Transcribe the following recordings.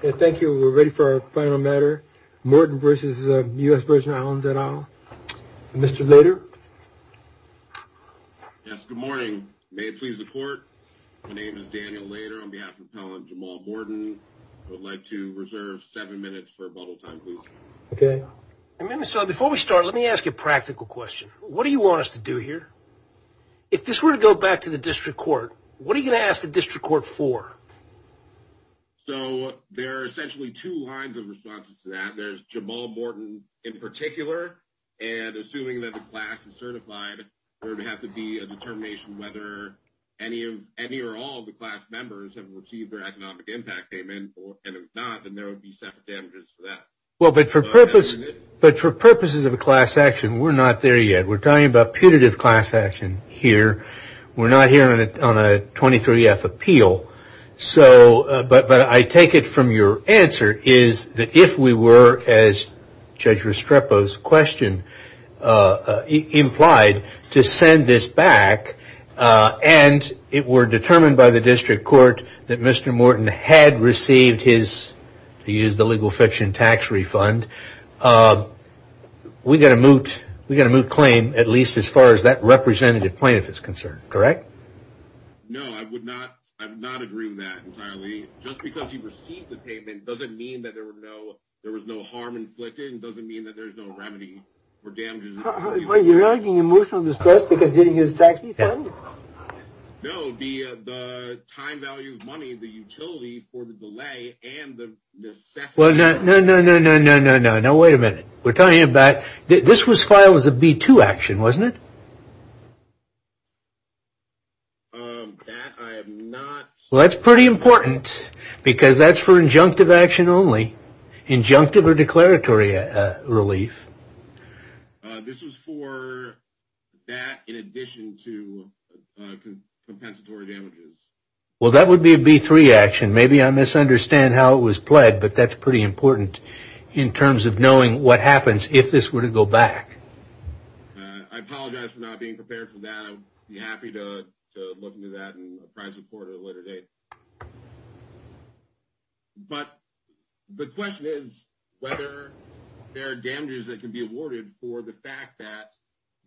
Thank you. We're ready for our final matter. Morton v. USV at all. Mr. Lader. Yes, good morning. May it please the court. My name is Daniel Lader on behalf of Appellant Jamal Morton. I would like to reserve seven minutes for a bottle time, please. Okay. So before we start, let me ask you a practical question. What do you want us to do here? If this were to go back to the district court, what are you going to ask the district court for? So there are essentially two lines of responses to that. There's Jamal Morton in particular, and assuming that the class is certified, there would have to be a determination whether any of any or all the class members have received their economic impact payment, or if not, then there would be separate damages for that. Well, but for purpose, but for purposes of a class action, we're not there yet. We're talking about putative class here. We're not here on a 23F appeal, but I take it from your answer is that if we were, as Judge Restrepo's question implied, to send this back, and it were determined by the district court that Mr. Morton had received his, to use the legal fiction, tax refund, we got a moot claim, at least as far as that representative plaintiff is concerned, correct? No, I would not. I'm not agreeing with that entirely. Just because he received the payment doesn't mean that there were no, there was no harm inflicted. It doesn't mean that there's no remedy for damages. You're arguing emotional distress because he didn't use the tax refund? No, the time value of money, the utility for the delay and the necessity. No, no, no, no, no, no, no, no. Wait a minute. We're talking about, this was filed as a B2 action, wasn't it? That I have not. Well, that's pretty important because that's for injunctive action only, injunctive or declaratory relief. This was for that in addition to compensatory damages. Well, that would be a B3 action. Maybe I misunderstand how it was pled, but that's pretty important in terms of knowing what happens if this were to go back. I apologize for not being prepared for that. I'll be happy to look into that in a private court at a later date. But the question is whether there are damages that can be awarded for the fact that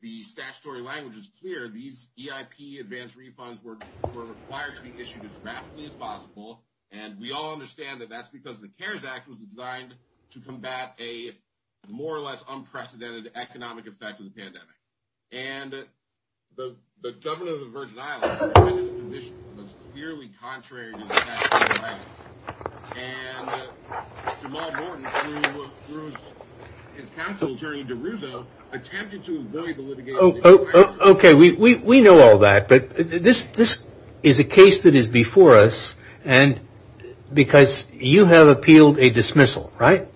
the statutory language is clear. These EIP advanced refunds were required to be issued as rapidly as possible. And we all understand that that's because the CARES Act was designed to combat a more or less unprecedented economic effect of the pandemic. And the governor of the Virgin Islands was clearly contrary to his statutory language. And Jamal Morton, through his counsel, attorney DeRusso, attempted to avoid the litigation. Okay, we know all that. But this is a case that is before us. And because you have appealed a dismissal, right?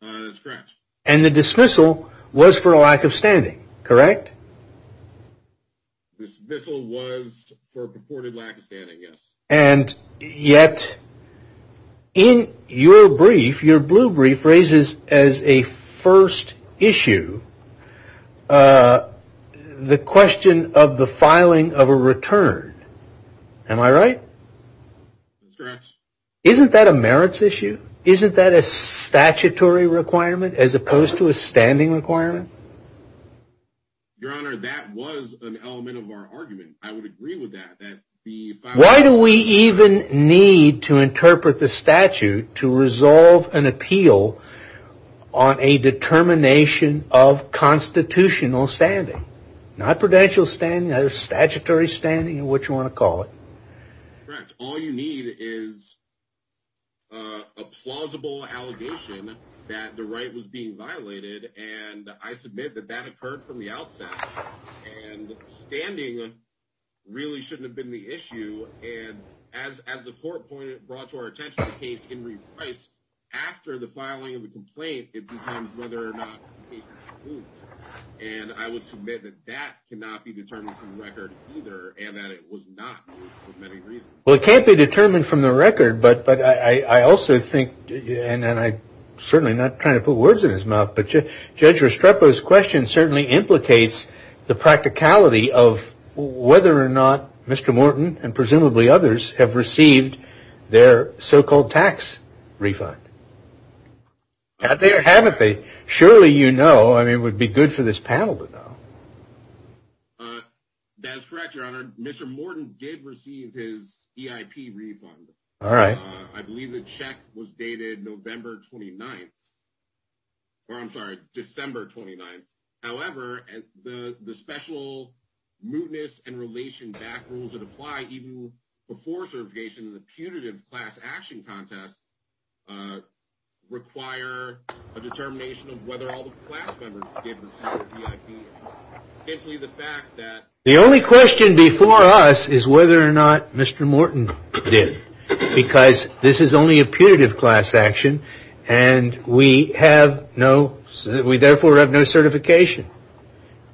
That's correct. And the dismissal was for a lack of standing, correct? The dismissal was for purported lack of standing, yes. And yet, in your brief, your blue brief raises as a first issue, the question of the filing of a return. Am I right? That's correct. Isn't that a merits issue? Isn't that a statutory requirement as opposed to a standing requirement? Your Honor, that was an element of our argument. I would agree with that. Why do we even need to interpret the statute to resolve an appeal on a determination of constitutional standing? Not prudential standing, statutory standing, what you want to call it. Correct. All you need is a plausible allegation that the right was being violated. And I submit that that occurred from the outset. And standing really shouldn't have been the issue. And as the court brought to our attention the case in reprise, after the filing of the complaint, it becomes whether or not the case was moved. And I would submit that that cannot be determined from the record either, and that it was not moved for many reasons. Well, it can't be determined from the record. But I also think, and I'm certainly not trying to put words in his mouth, but Judge Restrepo's question certainly implicates the practicality of whether or not Mr. Morton and presumably others have received their so-called tax refund. Have they or haven't they? Surely you know. I mean, it would be good for this panel to know. That's correct, Your Honor. Mr. Morton did receive his EIP refund. All right. I believe the check was dated November 29th, or I'm sorry, December 29th. However, the special mootness and relation back rules that apply even before certification in the punitive class action contest require a determination of whether all the class members gave the EIP, simply the fact that... The only question before us is whether or not Mr. Morton did, because this is only a punitive class action, and we have no... We therefore have no certification.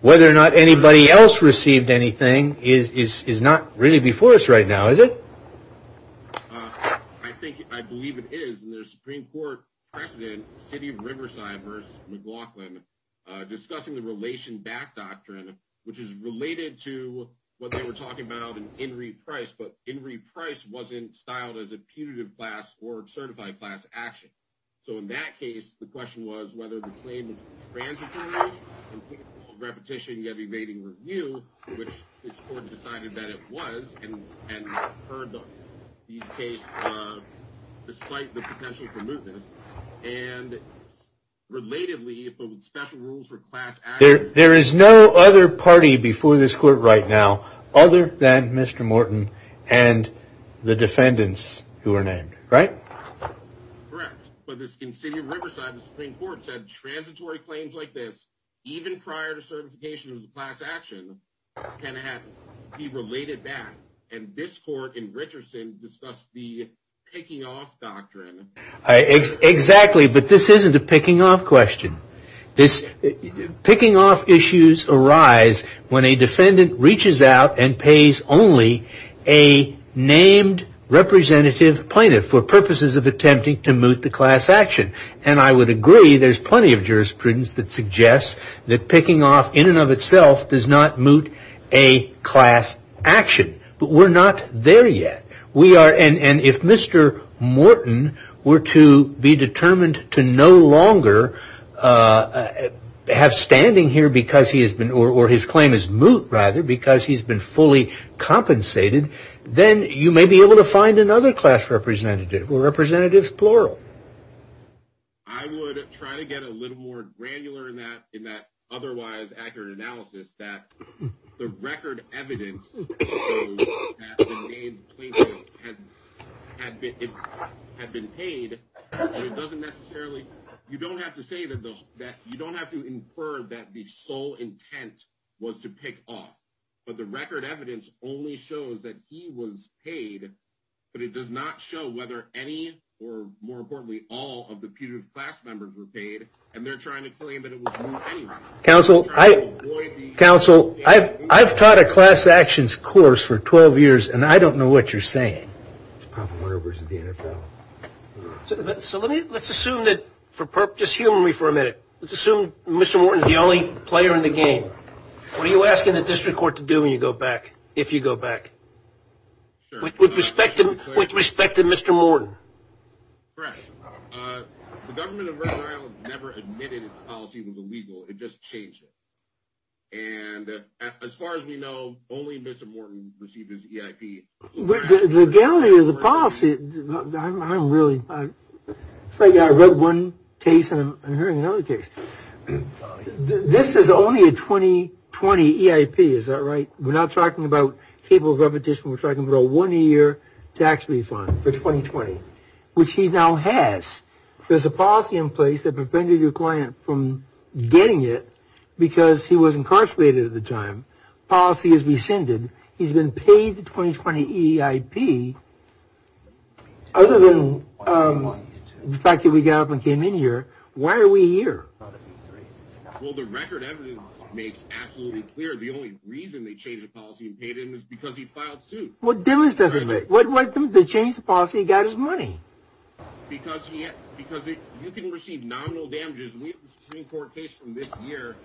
Whether or not anybody else received anything is not really before us right now, is it? I think, I believe it is, and there's Supreme Court President, City of Riverside v. McLaughlin, discussing the relation back doctrine, which is related to what they were talking about in In Re Price, but In Re Price wasn't styled as a punitive class or certified class action. So, in that case, the question was whether the claim was transitory, repetition, yet evading review, which the court decided that it was, and heard the case despite the potential for mootness, and, Relatedly, if it was special rules for class action... There is no other party before this court right now, other than Mr. Morton, and the defendants who are named, right? Correct, but this, in City of Riverside, the Supreme Court said transitory claims like this, even prior to certification of the class action, can be related back, and this court in Richardson discussed the picking off doctrine. Exactly, but this isn't a picking off question. Picking off issues arise when a defendant reaches out and pays only a named representative plaintiff for purposes of attempting to moot the class action, and I would agree there's plenty of jurisprudence that suggests that picking off in and of itself does not moot a class action, but we're not there yet. We are, and if Mr. Morton were to be determined to no longer have standing here because he has been, or his claim is moot rather, because he's been fully compensated, then you may be able to find another class representative or representatives plural. I would try to get a little more granular in that in that otherwise accurate analysis that the record evidence shows that the named plaintiff had been paid, and it doesn't necessarily, you don't have to say that, you don't have to infer that the sole intent was to pick off, but the record evidence only shows that he was paid, but it does not show whether any, or more importantly, all of the putative class members were paid, and they're trying to claim that it was moot anyway. Counsel, I've taught a class actions course for 12 years, and I don't know what you're saying. So let's assume that, just humor me for a minute, let's assume Mr. Morton's the only player in the game. What are you asking the district court to do when you go back, if you go back, with respect to Mr. Morton? Correct. The government of Rhode Island never admitted its policy was illegal, it just changed it, and as far as we know, only Mr. Morton received his EIP. The legality of the policy, I'm really, it's like I read one case and I'm hearing another case. This is only a 2020 EIP, is that right? We're not talking about cable repetition, we're talking about a one-year tax refund for 2020, which he now has. There's a policy in place that prevented your client from getting it, because he was incarcerated at the time. Policy has rescinded, he's been paid the 2020 EIP. Other than the fact that we got up and came in here, why are we here? Well, the record evidence makes absolutely clear the only reason they changed the policy and paid him is because he filed suit. What evidence does it make? They changed the policy, he got his money. Because you can receive nominal damages, we have a Supreme Court case from this year.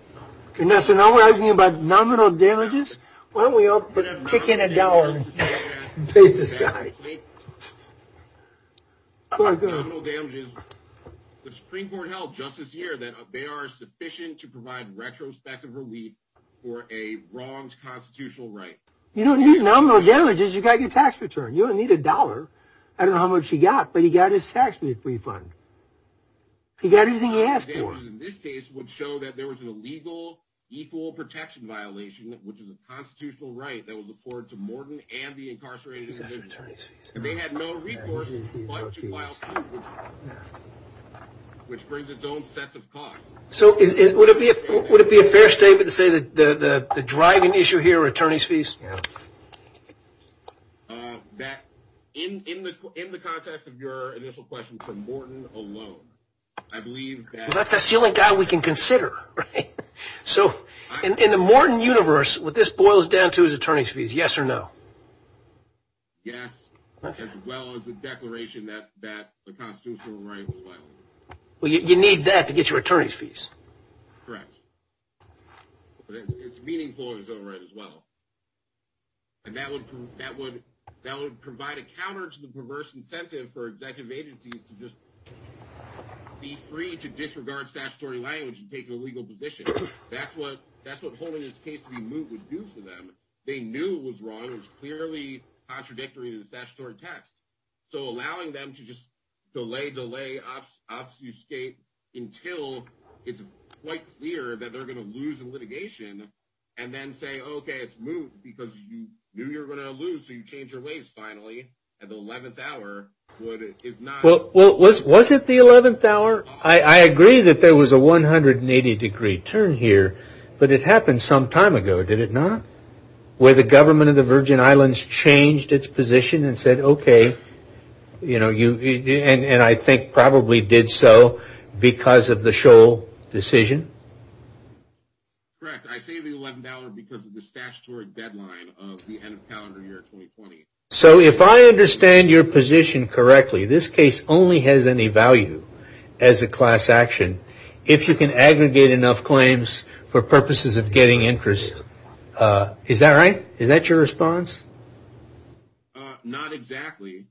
So now we're talking about nominal damages, why don't we all kick in a dollar and pay this guy? The Supreme Court held just this year that they are sufficient to provide retrospective relief for a wronged constitutional right. You don't need nominal damages, you got your tax return, you don't need a dollar. I don't know how much he got, but he got his tax refund. He got everything he asked for. This case would show that there was an illegal equal protection violation, which is a constitutional right that was afforded to Morton and the incarcerated. And they had no recourse but to file suit, which brings its own set of costs. Would it be a fair statement to say that the driving issue here are attorney's fees? In the context of your initial question for Morton alone, I believe that... He's not the only guy we can consider. So in the Morton universe, what this boils down to is attorney's fees, yes or no? Yes, as well as the declaration that the constitutional right was violated. Well, you need that to get your attorney's fees. Correct. But it's meaningful in its own right as well. And that would provide a counter to the perverse incentive for executive agencies to just be free to disregard statutory language and take an illegal position. That's what holding this case to be moot would do for them. They knew it was wrong. It was clearly contradictory to the statutory text. So allowing them to just delay, delay, obfuscate until it's quite clear that they're going to lose in litigation and then say, OK, it's moot because you knew you were going to lose, so you changed your ways finally. And the 11th hour is not... Was it the 11th hour? I agree that there was a 180 degree turn here, but it happened some time ago, did it not? Where the government of the Virgin Islands changed its position and said, OK, you know, you and I think probably did so because of the Shoal decision? Correct. I say the 11th hour because of the statutory deadline of the end of calendar year 2020. So if I understand your position correctly, this case only has any value as a class action. If you can aggregate enough claims for purposes of getting interest. Is that right? Is that your response? Not exactly,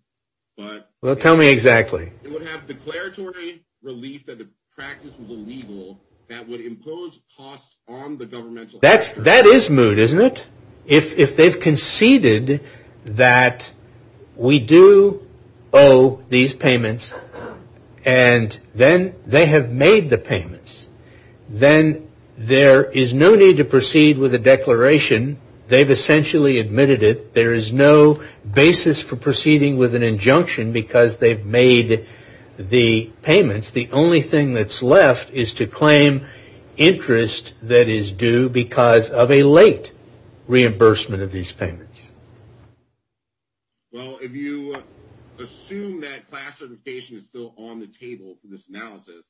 but... Well, tell me exactly. It would have declaratory relief that the practice was illegal that would impose costs on the governmental actors. That is moot, isn't it? If they've conceded that we do owe these payments and then they have made the payments, then there is no need to proceed with a declaration. They've essentially admitted it. There is no basis for proceeding with an injunction because they've made the payments. The only thing that's left is to claim interest that is due because of a late reimbursement of these payments. Well, if you assume that class certification is still on the table for this analysis,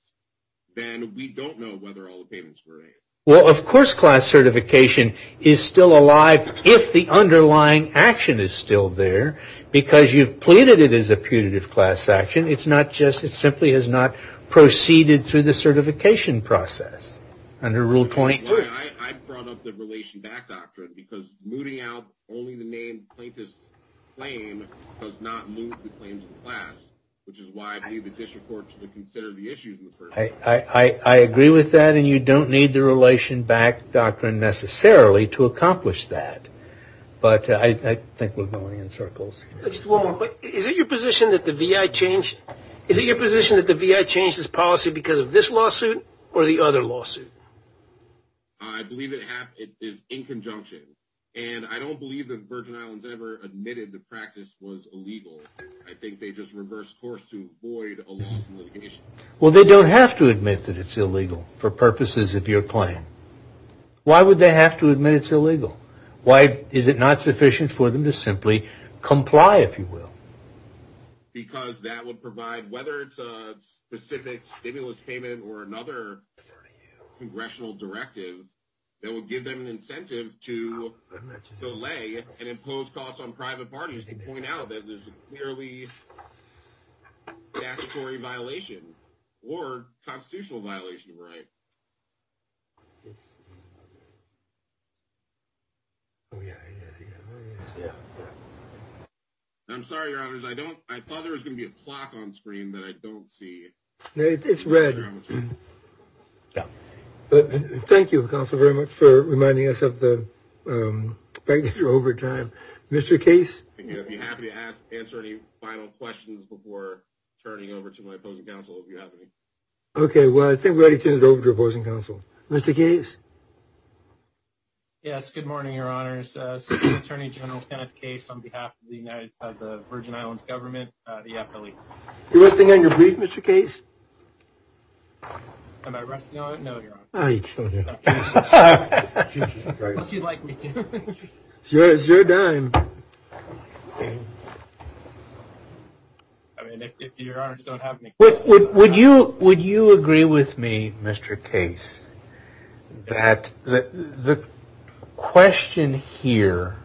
then we don't know whether all the payments were made. Well, of course, class certification is still alive if the underlying action is still there because you've pleaded it is a punitive class action. It simply has not proceeded through the certification process under Rule 23. I brought up the relation back doctrine because mooting out only the main plaintiff's claim does not move the claims of the class, which is why I believe the district court should consider the issue in the first place. I agree with that and you don't need the relation back doctrine necessarily to accomplish that. But I think we're going in circles. Is it your position that the VI changed this policy because of this lawsuit or the other lawsuit? I believe it is in conjunction and I don't believe that Virgin Islands ever admitted the practice was illegal. I think they just reversed course to avoid a lawsuit. Well, they don't have to admit that it's illegal for purposes of your claim. Why would they have to admit it's illegal? Why is it not sufficient for them to simply comply, if you will? Because that would provide whether it's a specific stimulus payment or another congressional directive that would give them an incentive to delay and impose costs on private parties to point out that there's a clearly statutory violation or it's. I'm sorry, I thought there was going to be a clock on screen that I don't see. It's red. Thank you very much for reminding us of the over time, Mr. Case. Be happy to answer any final questions before turning over to my opposing counsel. Okay, well, I think we're ready to turn it over to opposing counsel. Mr. Case. Yes, good morning, your honors. Assistant Attorney General Kenneth Case on behalf of the United Virgin Islands government, the FLE. You're resting on your brief, Mr. Case. Am I resting on it? No, you're on it. Oh, you're killing me. Unless you'd like me to. It's your dime. I mean, if your honors don't have any. Would you agree with me, Mr. Case, that the question here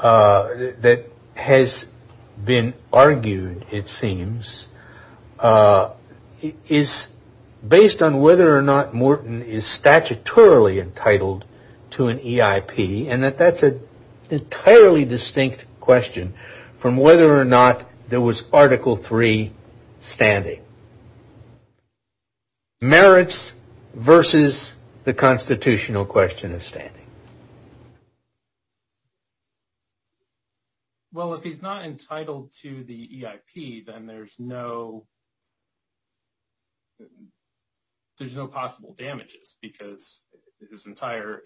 that has been argued, it seems, is based on whether or not Morton is statutorily entitled to an EIP and that that's an entirely distinct question from whether or not there was Article 3 standing. Merits versus the constitutional question of standing. Well, if he's not entitled to the EIP, then there's no there's no possible damages because his entire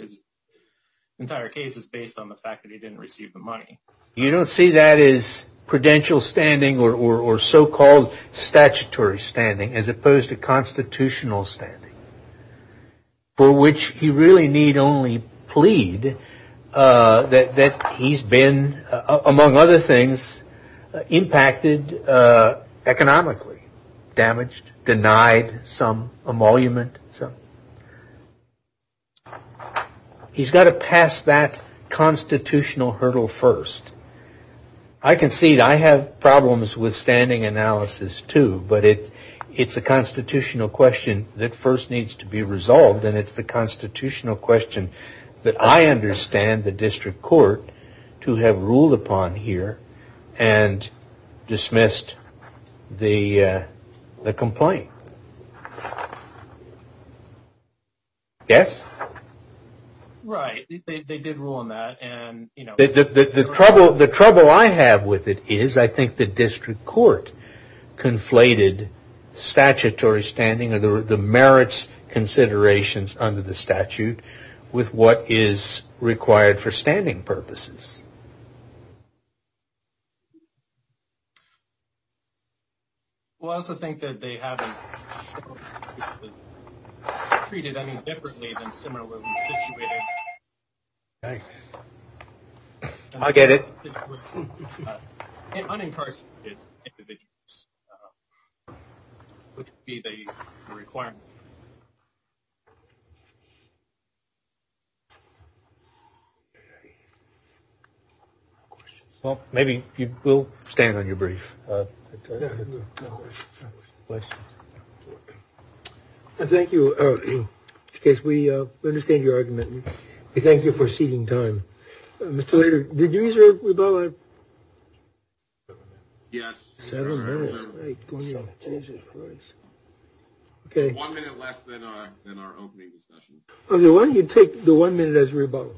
case is based on the fact that he didn't receive the money. You don't see that as prudential standing or so-called statutory standing as opposed to constitutional standing. For which you really need only plead that he's been, among other things, impacted economically, damaged, denied some emolument. He's got to pass that constitutional hurdle first. I concede I have problems with standing analysis, too, but it's a constitutional question that first needs to be resolved. And it's the constitutional question that I understand the district court to have ruled upon here and dismissed the complaint. Yes? Right. They did rule on that. The trouble I have with it is I think the district court conflated statutory standing or the merits considerations under the statute with what is required for standing purposes. Well, I also think that they haven't treated any differently than similar situations. I get it. Unincarcerated individuals, which would be the requirement. Well, maybe you will stand on your brief. Thank you. In case we understand your argument, we thank you for ceding time. Mr. Lader, did you use your rebuttal? Yes. Okay. One minute less than our opening discussion. Okay. Why don't you take the one minute as rebuttal?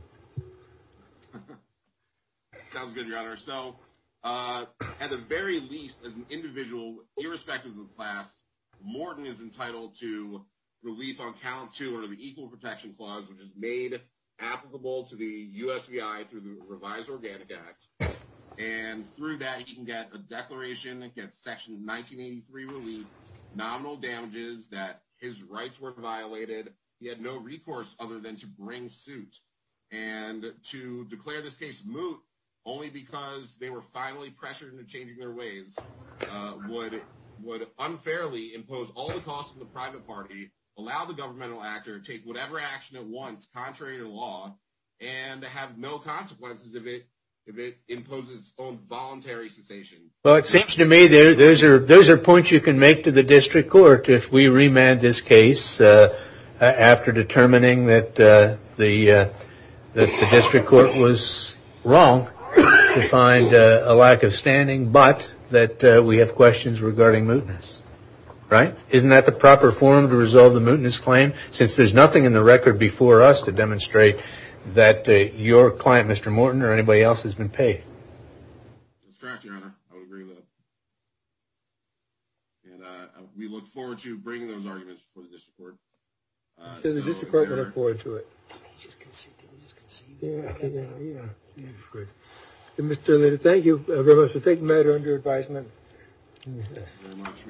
Sounds good, your honor. So at the very least, as an individual, irrespective of class, Morton is entitled to release on count two or the equal protection clause, which is made applicable to the USVI through the revised Organic Act. And through that, he can get a declaration against section 1983 relief, nominal damages that his rights were violated. He had no recourse other than to bring suit. And to declare this case moot only because they were finally pressured into changing their ways would unfairly impose all the costs of the private party, allow the governmental actor to take whatever action at once, contrary to law, and to have no consequences if it imposes on voluntary cessation. Well, it seems to me those are points you can make to the district court if we remand this case after determining that the district court was wrong to find a lack of standing, but that we have questions regarding mootness. Right? Isn't that the proper form to resolve the mootness claim? Since there's nothing in the record before us to demonstrate that your client, Mr. Morton, or anybody else has been paid. That's correct, your honor. I would agree with that. And we look forward to bringing those arguments before the district court. The district court will look forward to it. He just conceded. He just conceded. Yeah, yeah, yeah. Mr. Liddy, thank you very much for taking the matter under advisement.